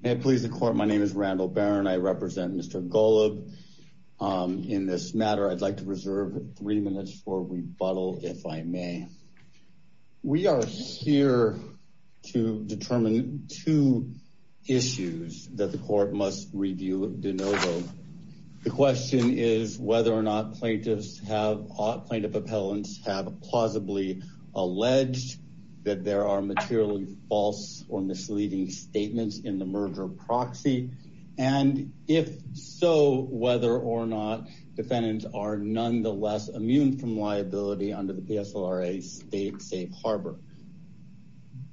May it please the court, my name is Randall Barron. I represent Mr. Golub. In this matter, I'd like to reserve three minutes for rebuttal, if I may. We are here to determine two issues that the court must review de novo. The question is whether or not plaintiffs have, plaintiff appellants have, plausibly alleged that there are materially false or misleading statements in the merger proxy, and if so, whether or not defendants are nonetheless immune from liability under the PSLRA State Safe Harbor.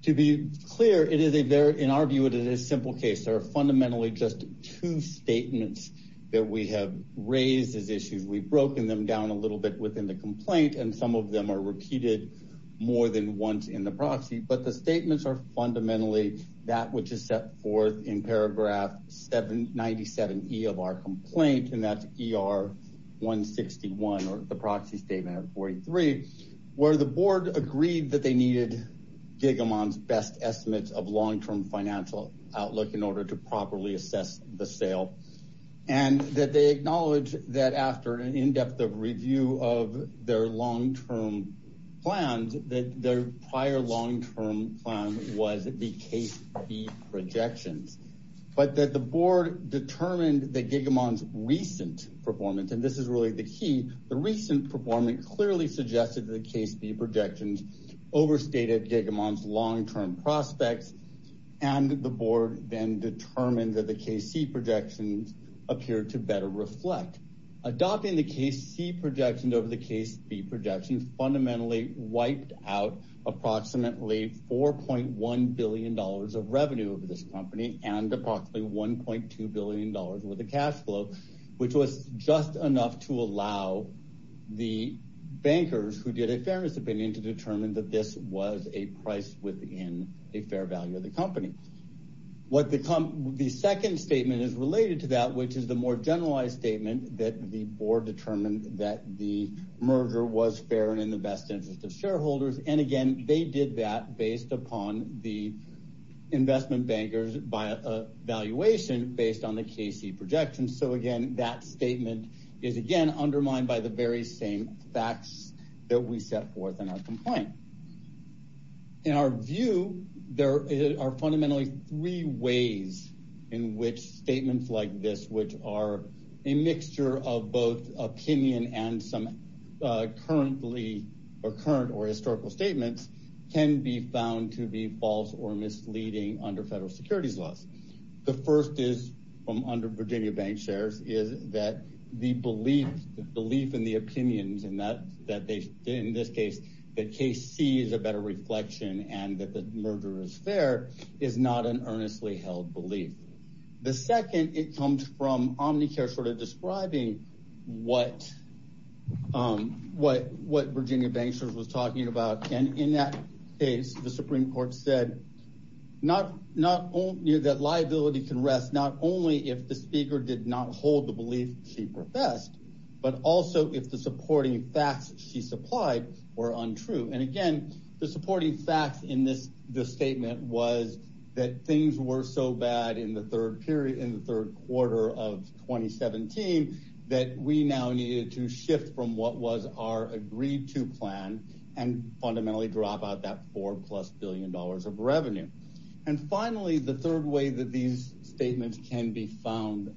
To be clear, it is a very, in our view, it is a simple case. There are fundamentally just two statements that we have raised as issues. We've broken them down a little bit within the complaint, and some of them are repeated more than once in the proxy, but the statements are fundamentally that which is set forth in paragraph 797E of our complaint, and that's ER 161, or the proxy statement of 43, where the board agreed that they needed Gigamon's best estimates of long-term financial outlook in order to properly their prior long-term plan was the case B projections, but that the board determined that Gigamon's recent performance, and this is really the key, the recent performance clearly suggested that the case B projections overstated Gigamon's long-term prospects, and the board then determined that the case C projections appeared to better reflect. Adopting the case C projections over the case B projections fundamentally wiped out approximately $4.1 billion of revenue of this company and approximately $1.2 billion worth of cash flow, which was just enough to allow the bankers who did a fairness opinion to determine that this was a price within a fair value of the company. The second statement is related to that, which is the more generalized statement that the board determined that the merger was fair and in the best interest of shareholders, and again they did that based upon the investment bankers valuation based on the case C projections, so again that statement is again undermined by the very same facts that we set forth in our complaint. In our view, there are fundamentally three ways in which statements like this which are a mixture of both opinion and some currently or current or historical statements can be found to be false or misleading under federal securities laws. The first is from under Virginia Bank shares is that the belief in the opinions and that they in this case that case C is a better reflection and that the merger is fair is not an earnestly held belief. The second it comes from Omnicare sort of describing what Virginia Bank shares was talking about and in that case the Supreme Court said not only that liability can rest not only if the speaker did not hold the belief she professed, but also if the supporting facts she supplied were untrue and again the supporting facts in this statement was that things were so bad in the third period in the third quarter of 2017 that we now needed to shift from what was our agreed to plan and fundamentally drop out that four plus billion dollars of revenue. And finally the third way that these statements can be found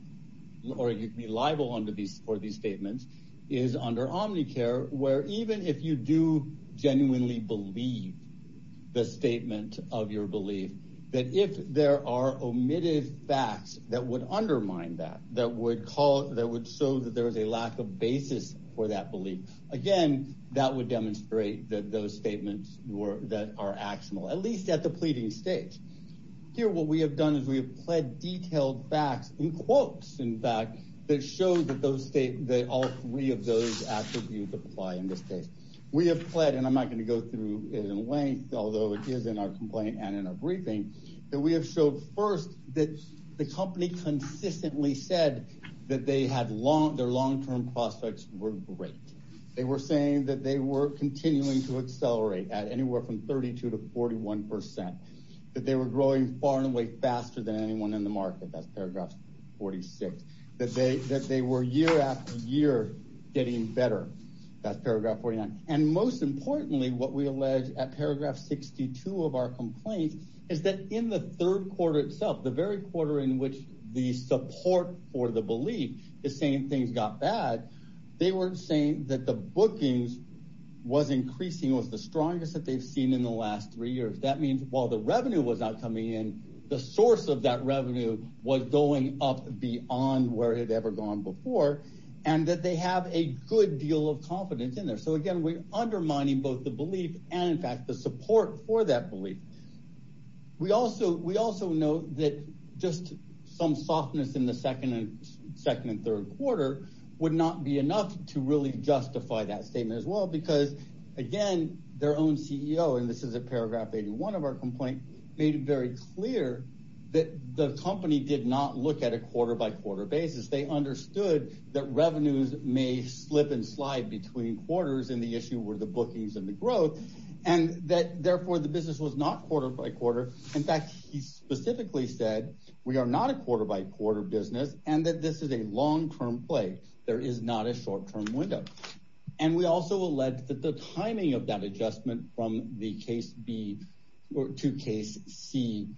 or you can be liable under these for these statements is under Omnicare where even if you do genuinely believe the statement of your belief that if there are omitted facts that would undermine that that would call that would show that there is a lack of basis for that belief again that would demonstrate that those statements were that are actionable at least at the pleading stage. Here what we have done is we have pled detailed facts in quotes in fact that show that those state that all three of those attributes apply in this case. We have pled and I'm not going to go through it in length although it is in our complaint and in our briefing that we have showed first that the company consistently said that they had long their long-term prospects were great they were saying that they were continuing to accelerate at anywhere from 32 to 41 percent that they were growing far and away faster than anyone in the market that's paragraph 46 that they that they were year after year getting better that's paragraph 49 and most importantly what we allege at paragraph 62 of our complaint is that in the third quarter itself the very quarter in which the support for the belief is saying things got bad they weren't saying that the bookings was increasing was the strongest that they've seen in the last three years that means while the revenue was not coming in the source of that revenue was going up beyond where it had ever gone before and that they have a good deal of confidence in there so again we're undermining both the belief and in fact the support for that belief we also we also know that just some softness in the second and second and third quarter would not be enough to really justify that statement as well because again their own ceo and this is a paragraph 81 of our complaint made it very clear that the company did not look at a quarter by quarter basis they understood that revenues may slip and slide between quarters and the issue were the bookings and the growth and that therefore the business was not quarter by quarter in fact he specifically said we are not a quarter by quarter business and that this is a long-term play there is not a short-term window and we also allege that the timing of that adjustment from the case b or to case c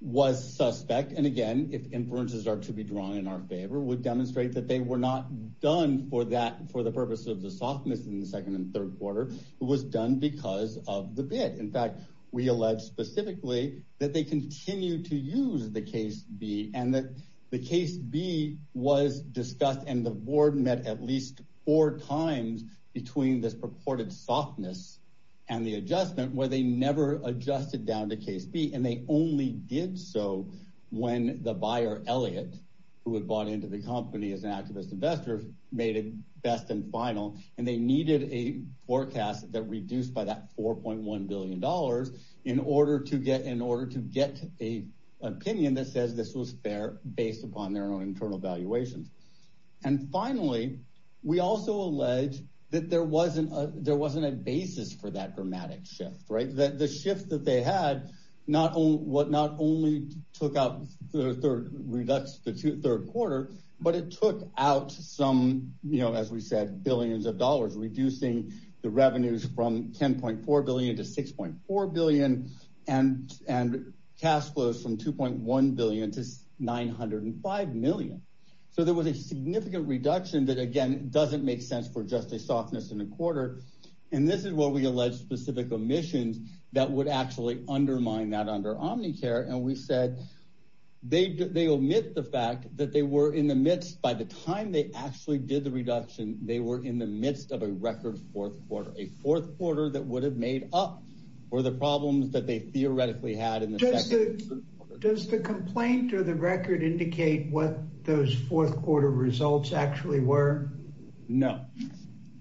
was suspect and again if inferences are to be drawn in our favor would demonstrate that they were not done for that for the purpose of the softness in the second and third quarter it was done because of the bid in fact we allege specifically that they continue to use the case b and that the case b was discussed and the board met at least four times between this purported softness and the adjustment where they never adjusted down to case b and they only did so when the buyer elliot who had bought into the company as an activist investor made it best and final and they needed a forecast that reduced by that 4.1 billion dollars in order to get a opinion that says this was fair based upon their own internal valuations and finally we also allege that there wasn't a basis for that dramatic shift right that the shift that they had not only took out the third quarter but it took out some you know as we said billions of dollars reducing the revenues from 10.4 billion to 6.4 billion and and cash flows from 2.1 billion to 905 million so there was a significant reduction that again doesn't make sense for just a softness in a quarter and this is what we allege specific omissions that would actually undermine that under omnicare and we said they they omit the fact that they were in the midst by the time they actually did the reduction they were in the midst of a record fourth quarter a fourth quarter that would have made up for the problems that they theoretically had in the does the complaint or the record indicate what those fourth quarter results actually were no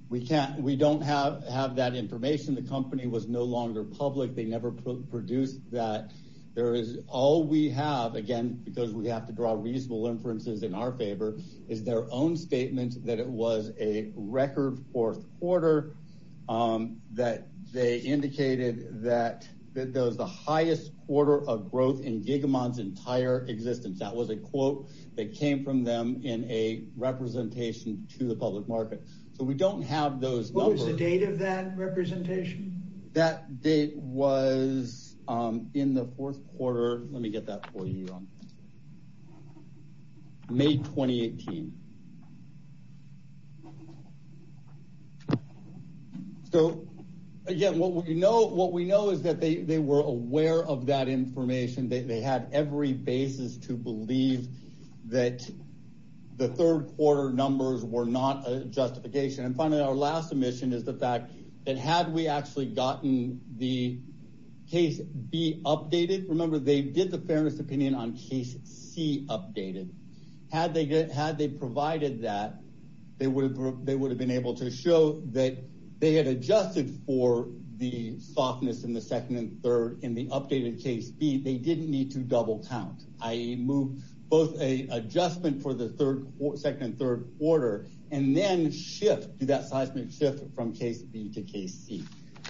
we can't we don't have have that information the company was no longer public they never produced that there is all we have again because we have to draw reasonable inferences in our favor is their own statement that it was a record fourth quarter that they indicated that that was the highest quarter of growth in gigamon's entire existence that was a quote that came from them in a representation to the public market so we don't have those what was the date of that representation that date was um in the fourth quarter let me get that for you on may 2018 so again what we know what we know is that they they were aware of that information they had every basis to believe that the third quarter numbers were not a justification and finally our last submission is the fact that had we actually gotten the case be updated remember they did the fairness opinion on case c updated had they had they provided that they would have they would have been able to show that they had adjusted for the softness in the second and third in the updated case b they didn't need to double count i.e move both a adjustment for the third second and third order and then shift do that seismic shift from case b to case c i'm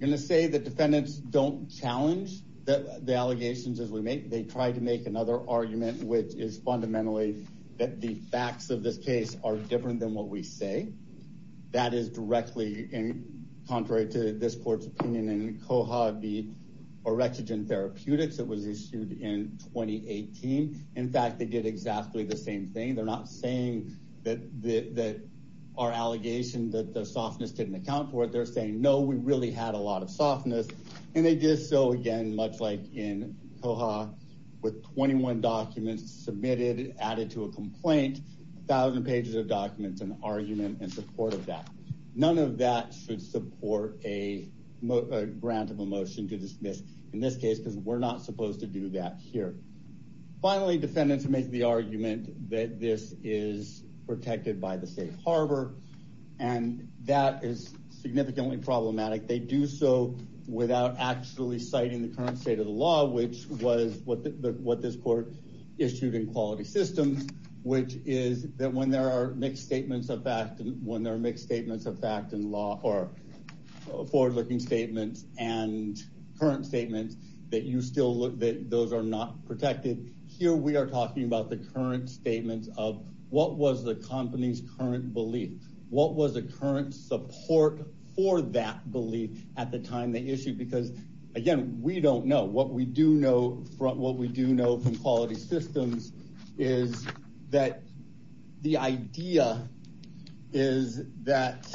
going to say the defendants don't challenge that the allegations as we make they try to make another argument which is fundamentally that the facts of this case are different than what we say that is directly in contrary to this court's opinion and cohab the therapeutics that was issued in 2018 in fact they did exactly the same thing they're not saying that the that our allegation that the softness didn't account for it they're saying no we really had a lot of softness and they did so again much like in coha with 21 documents submitted added to a complaint a thousand pages of documents and argument in support of that none of that should support a grant of a motion to dismiss in this case because we're not supposed to do that here finally defendants make the argument that this is protected by the state harbor and that is significantly problematic they do so without actually citing the current state of the law which was what the what this court issued in quality systems which is that there are mixed statements of fact and when there are mixed statements of fact in law or forward-looking statements and current statements that you still look that those are not protected here we are talking about the current statements of what was the company's current belief what was the current support for that belief at the time they issued because again we don't know what we do know from what we do know from quality systems is that the idea is that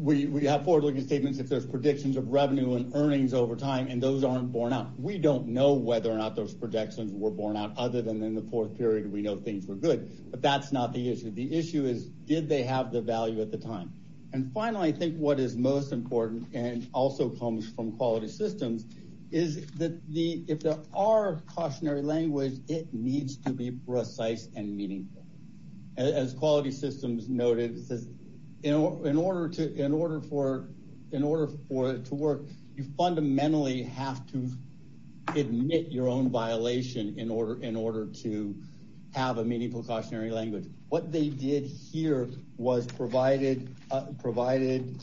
we have forward-looking statements if there's predictions of revenue and earnings over time and those aren't born out we don't know whether or not those projections were born out other than in the fourth period we know things were good but that's not the issue the issue is did they have the is that the if there are cautionary language it needs to be precise and meaningful as quality systems noted this is in order to in order for in order for it to work you fundamentally have to admit your own violation in order in order to have a meaningful cautionary language what they did here was provided uh provided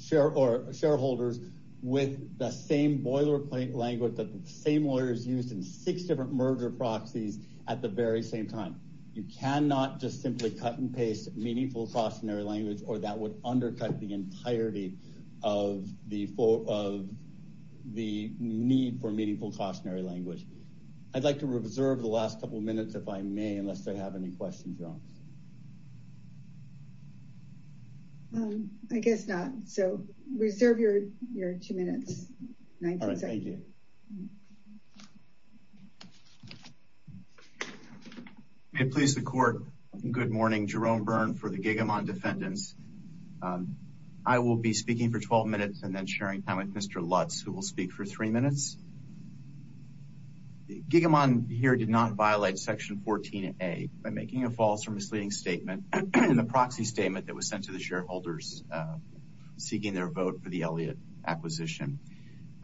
share or shareholders with the same boilerplate language that the same lawyers used in six different merger proxies at the very same time you cannot just simply cut and paste meaningful cautionary language or that would undercut the entirety of the of the need for meaningful cautionary language i'd like to reserve the um i guess not so reserve your your two minutes all right thank you may it please the court good morning jerome burn for the gigamond defendants i will be speaking for 12 minutes and then sharing time with mr lutz who will speak for three minutes gigamond here did not violate section 14a by making a false or misleading statement in the proxy statement that was sent to the shareholders uh seeking their vote for the elliott acquisition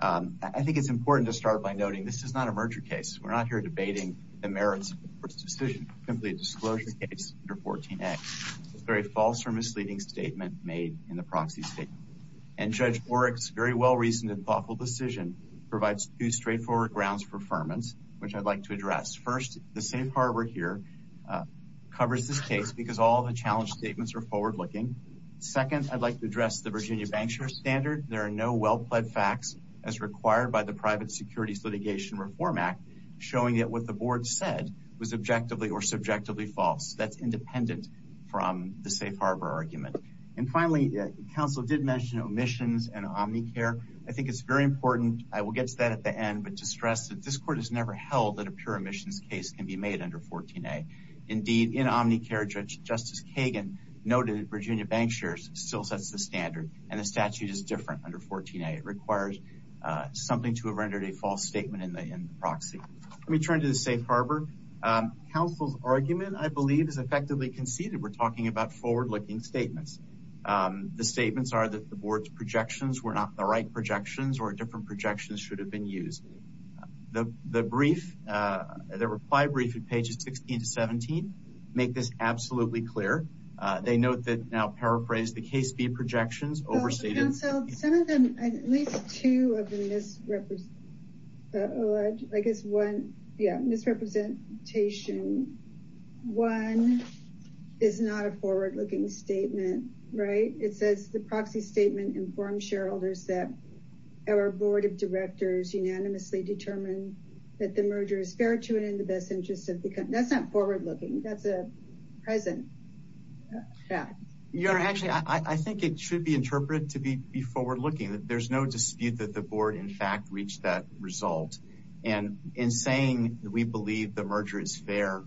um i think it's important to start by noting this is not a merger case we're not here debating the merits of this decision simply a disclosure case under 14a it's a very false or misleading statement made in the proxy statement and judge borick's very well-reasoned and thoughtful decision provides two straightforward grounds for affirmance which i'd like to address first the safe harbor here uh covers this case because all the challenge statements are forward-looking second i'd like to address the virginia bank share standard there are no well pled facts as required by the private securities litigation reform act showing that what the board said was objectively or subjectively false that's independent from the safe harbor argument and finally council did mention omissions and omnicare i think it's very important i will get to that at end but to stress that this court has never held that a pure emissions case can be made under 14a indeed in omnicare judge justice kagan noted virginia bank shares still sets the standard and the statute is different under 14a it requires uh something to have rendered a false statement in the in the proxy let me turn to the safe harbor um council's argument i believe is effectively conceded we're talking about forward-looking statements um the statements are that the board's the the brief uh the reply briefing pages 16 to 17 make this absolutely clear uh they note that now paraphrase the case b projections overseated some of them at least two of the misrepres i guess one yeah misrepresentation one is not a forward-looking statement right it says the proxy statement informs shareholders that our board of directors unanimously determined that the merger is fair to it in the best interest of the company that's not forward-looking that's a present yeah your honor actually i i think it should be interpreted to be be forward-looking that there's no dispute that the board in fact reached that result and in saying we believe the merger is fair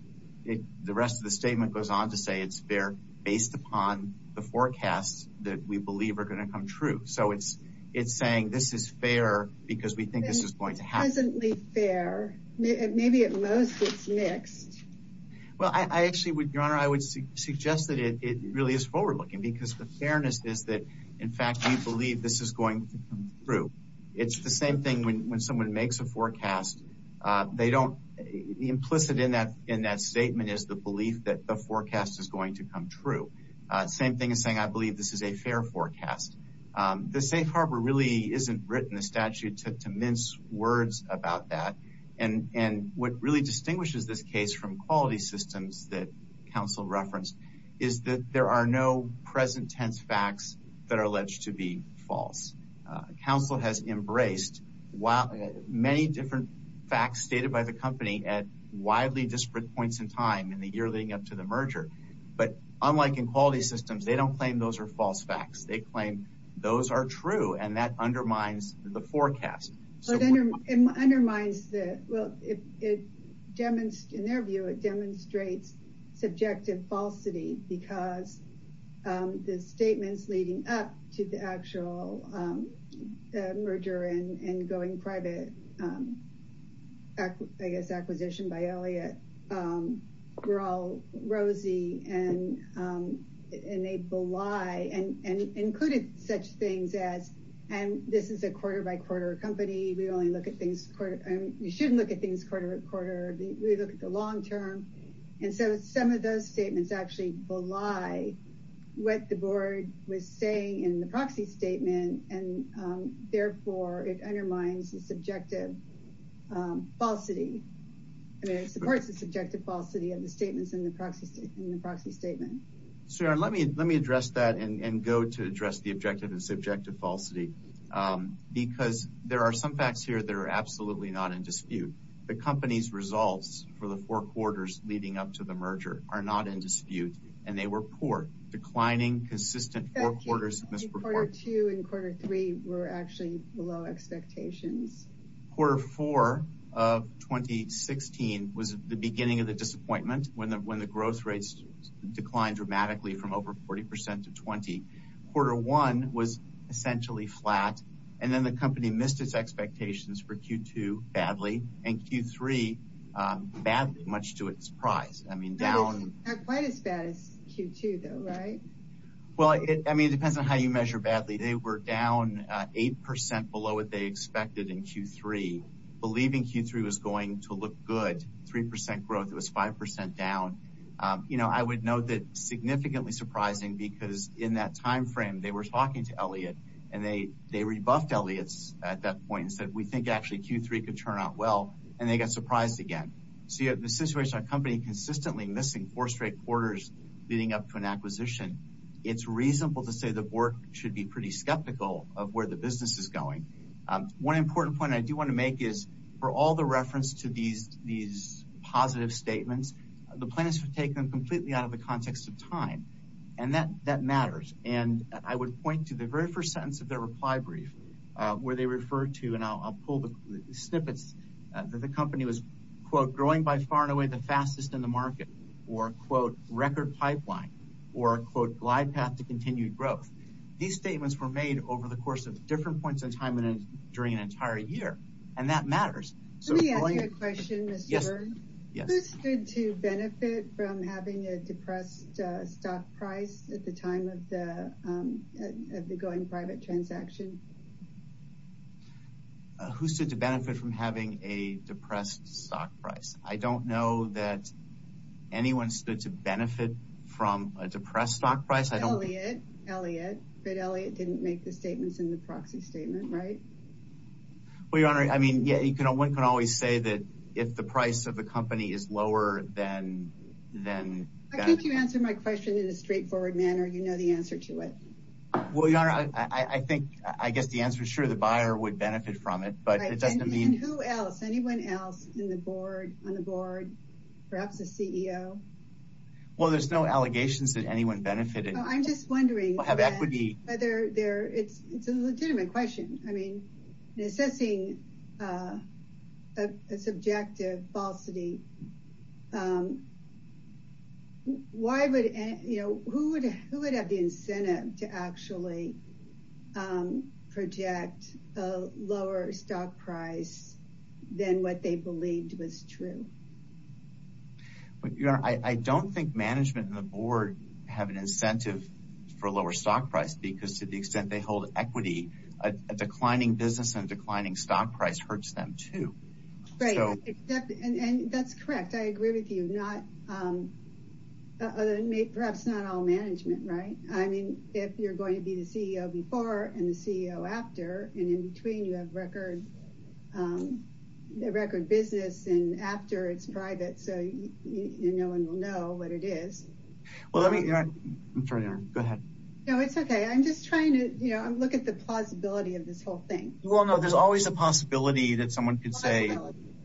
the rest of the statement goes on to say it's fair based upon the forecasts that we believe are going to come true so it's it's saying this is fair because we think this is going to happen there maybe at most it's mixed well i i actually would your honor i would suggest that it really is forward-looking because the fairness is that in fact we believe this is going to come through it's the same thing when when someone makes a forecast uh they don't the implicit in that in that statement is the belief that the forecast is going to come true same thing is saying i believe this is a fair forecast the safe harbor really isn't written a statute to to mince words about that and and what really distinguishes this case from quality systems that council referenced is that there are no present tense facts that are alleged to be false council has embraced while many different facts stated by the company at year leading up to the merger but unlike in quality systems they don't claim those are false facts they claim those are true and that undermines the forecast so it undermines the well it it demonstrates in their view it demonstrates subjective falsity because the statements leading up to the actual um merger and and going private um i guess acquisition by elliott um were all rosy and um and they belie and and included such things as and this is a quarter by quarter company we only look at things quarter and you shouldn't look at things quarter quarter we look at the long term and so some of those statements actually belie what the board was saying in the proxy statement and um therefore it undermines the objective um falsity i mean it supports the subjective falsity of the statements in the proxy in the proxy statement so let me let me address that and and go to address the objective and subjective falsity um because there are some facts here that are absolutely not in dispute the company's results for the four quarters leading up to the merger are not in dispute and they were poor declining consistent four quarters in this report two and quarter three were actually below expectations quarter four of 2016 was the beginning of the disappointment when the when the growth rates declined dramatically from over 40 to 20 quarter one was essentially flat and then the company missed its expectations for q2 badly and q3 badly much to its prize i mean down quite as bad as q2 though right well it i mean it depends on you measure badly they were down uh eight percent below what they expected in q3 believing q3 was going to look good three percent growth it was five percent down um you know i would note that significantly surprising because in that time frame they were talking to elliot and they they rebuffed elliot's at that point and said we think actually q3 could turn out well and they got surprised again so you have the situation a company consistently missing four straight quarters leading up to an acquisition it's reasonable to say the board should be pretty skeptical of where the business is going um one important point i do want to make is for all the reference to these these positive statements the plan is to take them completely out of the context of time and that that matters and i would point to the very first sentence of their reply brief where they refer to and i'll pull the snippets that the company was quote growing by far and pipeline or quote glide path to continued growth these statements were made over the course of different points in time and during an entire year and that matters so let me ask you a question yes good to benefit from having a depressed stock price at the time of the um of the going private transaction who stood to benefit from having a depressed stock price i don't know that anyone to benefit from a depressed stock price i don't elliot elliot but elliot didn't make the statements in the proxy statement right well your honor i mean yeah you can always say that if the price of the company is lower than then i think you answered my question in a straightforward manner you know the answer to it well your honor i i think i guess the answer is sure the buyer would benefit from it but it doesn't mean who else anyone else in the board on the board perhaps a ceo well there's no allegations that anyone benefited i'm just wondering i have equity whether there it's it's a legitimate question i mean assessing uh a subjective falsity um why would you know who would who would have the incentive to actually um project a lower stock price than what they believed was true but you know i i don't think management and the board have an incentive for a lower stock price because to the extent they hold equity a declining business and declining stock price hurts them too great and that's correct i agree with you not um perhaps not all management right i mean if you're before and the ceo after and in between you have record um the record business and after it's private so you no one will know what it is well let me i'm sorry go ahead no it's okay i'm just trying to you know look at the plausibility of this whole thing well no there's always a possibility that someone could say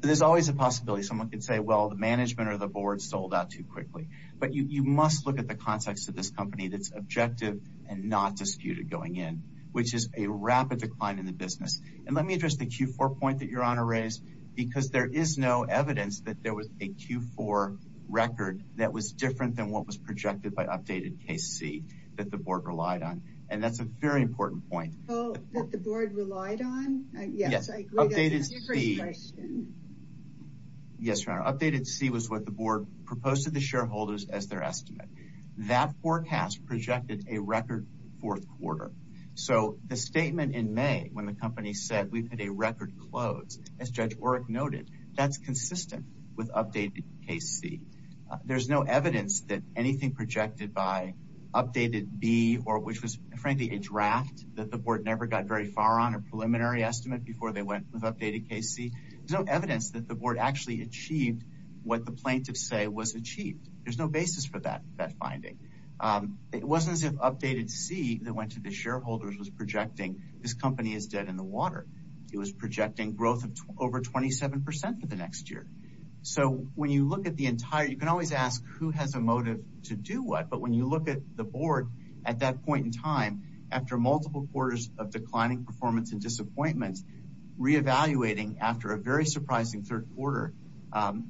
there's always a possibility someone could say well the management or the board sold out too quickly but you you must look at the context of this company that's and not disputed going in which is a rapid decline in the business and let me address the q4 point that your honor raised because there is no evidence that there was a q4 record that was different than what was projected by updated case c that the board relied on and that's a very important point oh that the board relied on yes i agree yes updated c was what the board proposed to the shareholders as their estimate that forecast projected a record fourth quarter so the statement in may when the company said we put a record close as judge oric noted that's consistent with updated case c there's no evidence that anything projected by updated b or which was frankly a draft that the board never got very far on a preliminary estimate before they went with updated case c there's no evidence that the board actually achieved what the plaintiffs say was achieved there's no basis for that that finding it wasn't as if updated c that went to the shareholders was projecting this company is dead in the water it was projecting growth of over 27 for the next year so when you look at the entire you can always ask who has a motive to do what but when you look at the board at that point in time after multiple quarters of after a very surprising third quarter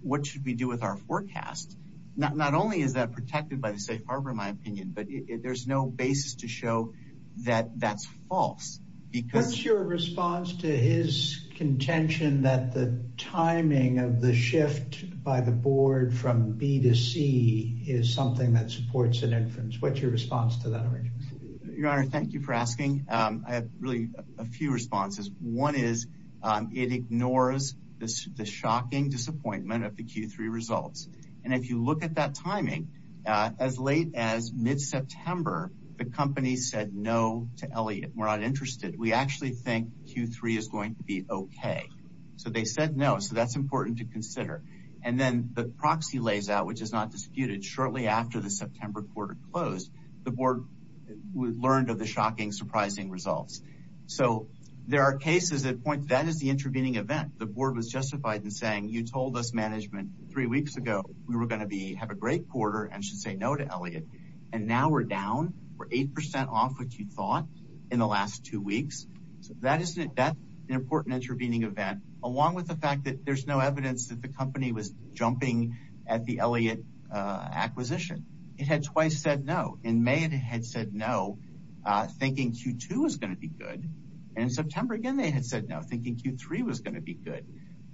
what should we do with our forecast not only is that protected by the safe harbor in my opinion but there's no basis to show that that's false because your response to his contention that the timing of the shift by the board from b to c is something that supports an inference what's your response to that your honor thank you for asking um i have really a few responses one is um it ignores this the shocking disappointment of the q3 results and if you look at that timing uh as late as mid-september the company said no to elliot we're not interested we actually think q3 is going to be okay so they said no so that's important to consider and then the proxy lays out which is not disputed shortly after the september quarter closed the board learned of the shocking surprising results so there are cases at points that is the intervening event the board was justified in saying you told us management three weeks ago we were going to be have a great quarter and should say no to elliot and now we're down we're eight percent off which you thought in the last two weeks so that isn't that an important intervening event along with the fact that there's no evidence that the company was jumping at the elliot uh had twice said no in may it had said no uh thinking q2 was going to be good and in september again they had said no thinking q3 was going to be good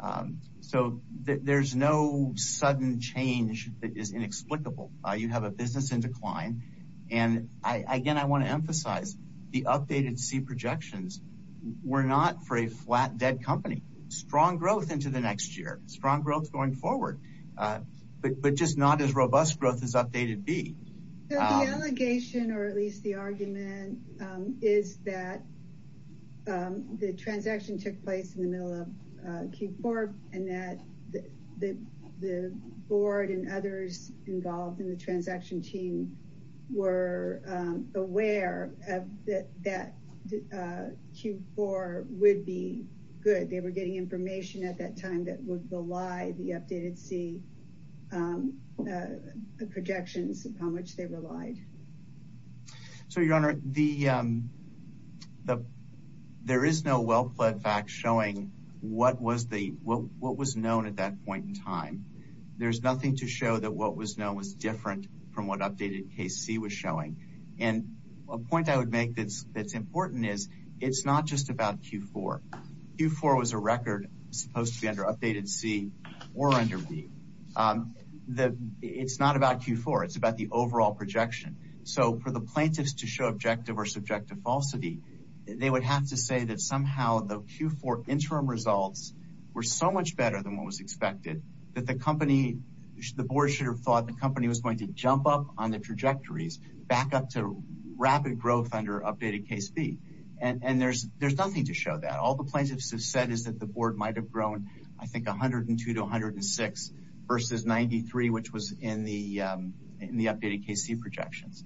um so there's no sudden change that is inexplicable uh you have a business in decline and i again i want to emphasize the updated c projections were not for a flat dead company strong growth into the next year strong growth going forward uh but but just not as robust growth as updated b the allegation or at least the argument um is that um the transaction took place in the middle of q4 and that the the board and others involved in the transaction team were um aware of that that uh q4 would be good they were getting information at that time that was the lie the updated c um uh the projections upon which they relied so your honor the um the there is no well-planned fact showing what was the what what was known at that point in time there's nothing to show that what was known was different from what updated kc was showing and a point i would make that's that's important is it's not just about q4 q4 was a record supposed to be under updated c or under b um the it's not about q4 it's about the overall projection so for the plaintiffs to show objective or subjective falsity they would have to say that somehow the q4 interim results were so much better than what was expected that the company the board should have thought the company was going to jump up on the trajectories back up to rapid growth under updated case b and and there's there's nothing to show that all the plaintiffs have said is that the board might have grown i think 102 to 106 versus 93 which was in the um in the updated kc projections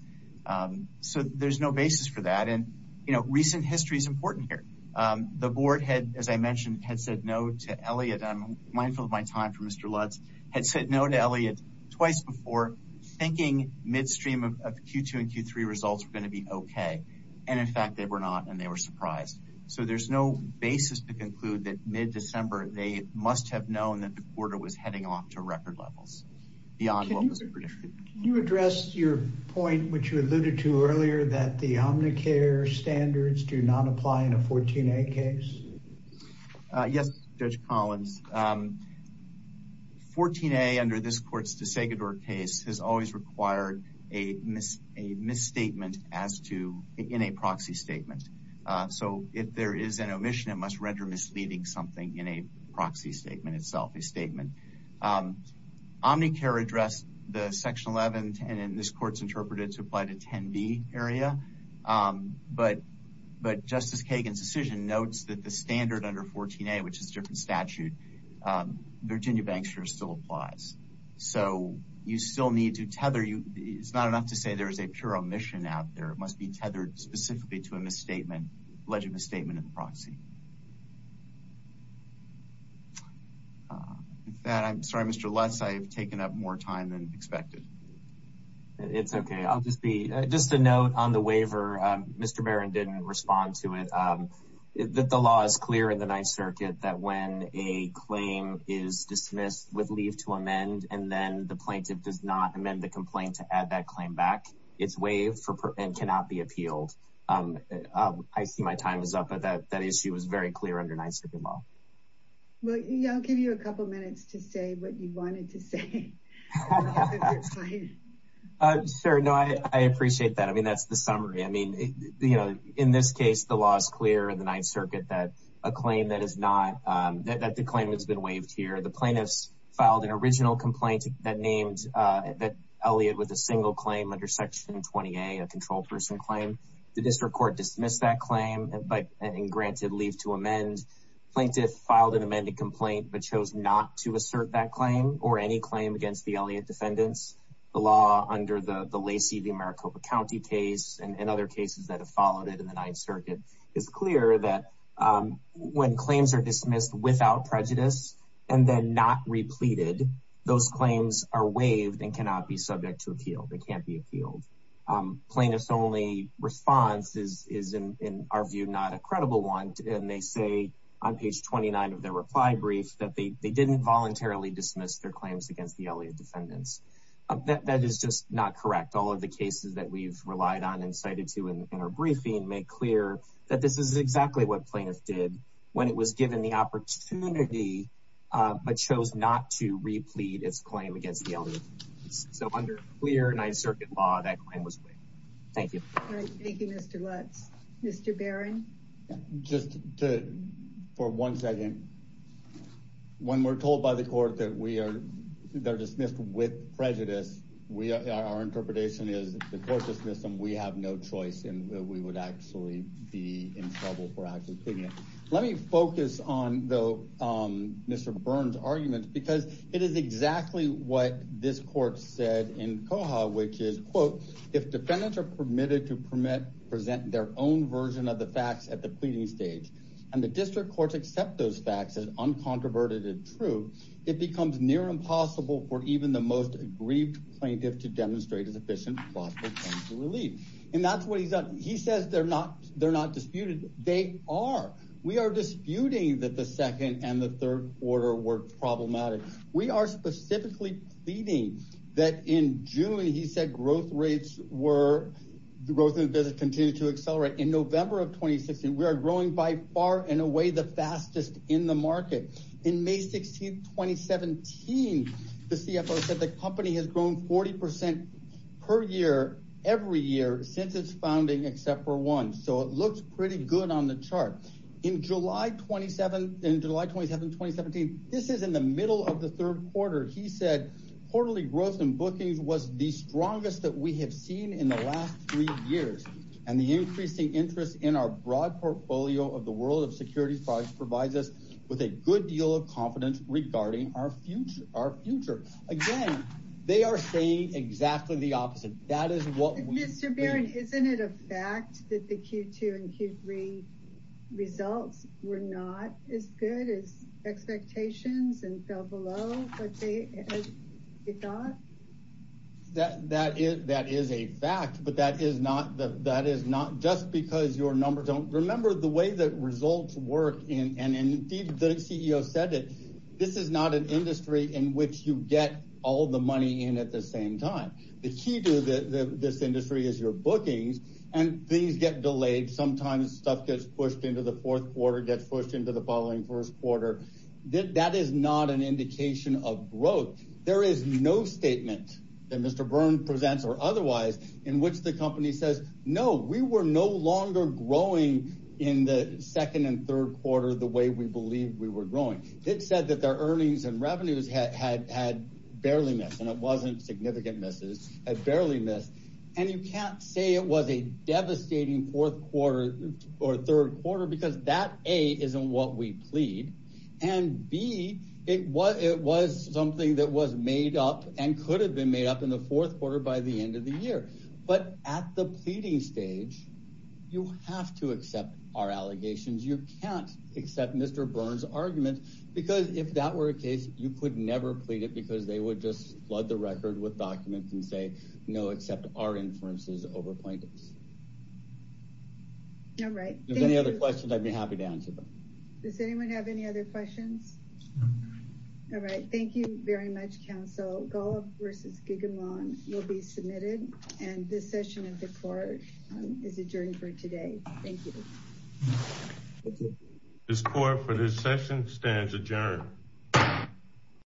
um so there's no basis for that and you know recent history is important here um the board had as i mentioned had said no to elliot i'm mindful of my time for q2 and q3 results were going to be okay and in fact they were not and they were surprised so there's no basis to conclude that mid-december they must have known that the quarter was heading off to record levels beyond what was predicted you addressed your point which you alluded to earlier that the omnicare standards do not apply in a 14a case uh yes judge collins um 14a under this court's desegador case has always required a miss a misstatement as to in a proxy statement uh so if there is an omission it must render misleading something in a proxy statement itself a statement um omnicare addressed the section 11 and this court's interpreted to apply to 10b area um but but justice kagan's decision notes that the standard under 14a which is different statute um virginia banksters still applies so you still need to tether you it's not enough to say there's a pure omission out there it must be tethered specifically to a misstatement alleged misstatement in the proxy with that i'm sorry mr lutz i have taken up more time than expected it's okay i'll just be just a note on the waiver um mr baron didn't respond to it um that the law is clear in the ninth circuit that when a claim is dismissed with leave to amend and then the plaintiff does not amend the complaint to add that claim back it's waived for and cannot be appealed um i see my time is up but that that issue was very clear under ninth circuit law well yeah i'll give you a couple minutes to say what you wanted to say uh sure no i i appreciate that i mean that's the summary i mean you know in this case the law is clear in the ninth circuit that a claim that is not um that that the claim has been waived here the plaintiffs filed an original complaint that named uh that elliott with a single claim under section 20a a controlled person claim the district court dismissed that claim but and granted leave to amend plaintiff filed an amended complaint but chose not to assert that claim or any claim against the elliott defendants the law under the lacey the maricopa county case and other cases that have followed it in the ninth circuit is clear that um when claims are dismissed without prejudice and then not repleted those claims are waived and cannot be subject to appeal they can't be appealed um plaintiff's only response is is in our view not a credible one and they say on page 29 of their reply brief that they they didn't voluntarily dismiss their claims against the elliott defendants that that is just not correct all of the cases that we've relied on and cited to in our briefing make clear that this is exactly what plaintiffs did when it was given the opportunity uh but chose not to replete its claim against the elliott so under clear ninth circuit law that claim was waived thank you thank we are they're dismissed with prejudice we are our interpretation is the court dismissed them we have no choice and we would actually be in trouble for actually picking it let me focus on the um mr burn's arguments because it is exactly what this court said in coha which is quote if defendants are permitted to permit present their own version of the facts at the pleading stage and the district courts accept those facts as uncontroverted and true it becomes near impossible for even the most aggrieved plaintiff to demonstrate as efficient and that's what he's done he says they're not they're not disputed they are we are disputing that the second and the third order were problematic we are specifically pleading that in june he said growth rates were the growth in business continued to accelerate in november of 2016 we are growing by far and away the fastest in the market in may 16 2017 the cfo said the company has grown 40 percent per year every year since its founding except for one so it looks pretty good on the chart in july 27 in july 27 2017 this is in the middle of the third quarter he said quarterly growth and bookings was the strongest that we have seen in the last three years and the increasing interest in our broad portfolio of the world of security products provides us with a good deal of confidence regarding our future our future again they are saying exactly the opposite that is what mr baron isn't it a fact that the q2 and q3 results were not as good as expectations and fell below what they thought that that is that is a that is not just because your numbers don't remember the way that results work in and indeed the ceo said it this is not an industry in which you get all the money in at the same time the key to the this industry is your bookings and things get delayed sometimes stuff gets pushed into the fourth quarter gets pushed into the following first quarter that that is not an indication of growth there is no statement that mr burn presents or otherwise in which the company says no we were no longer growing in the second and third quarter the way we believe we were growing it said that their earnings and revenues had had barely missed and it wasn't significant misses had barely missed and you can't say it was a devastating fourth quarter or third quarter because that a isn't what we plead and b it was it was something that was made up and could have been made up in the fourth quarter by the end of the year but at the pleading stage you have to accept our allegations you can't accept mr burn's argument because if that were a case you could never plead it because they would just flood the record with documents and say no except our inferences over plaintiffs all right any other questions i'd be happy to answer them does anyone have any other questions all right thank you very much counsel golf versus gigamon will be submitted and this session of the court is adjourned for today thank you this court for this session stands adjourned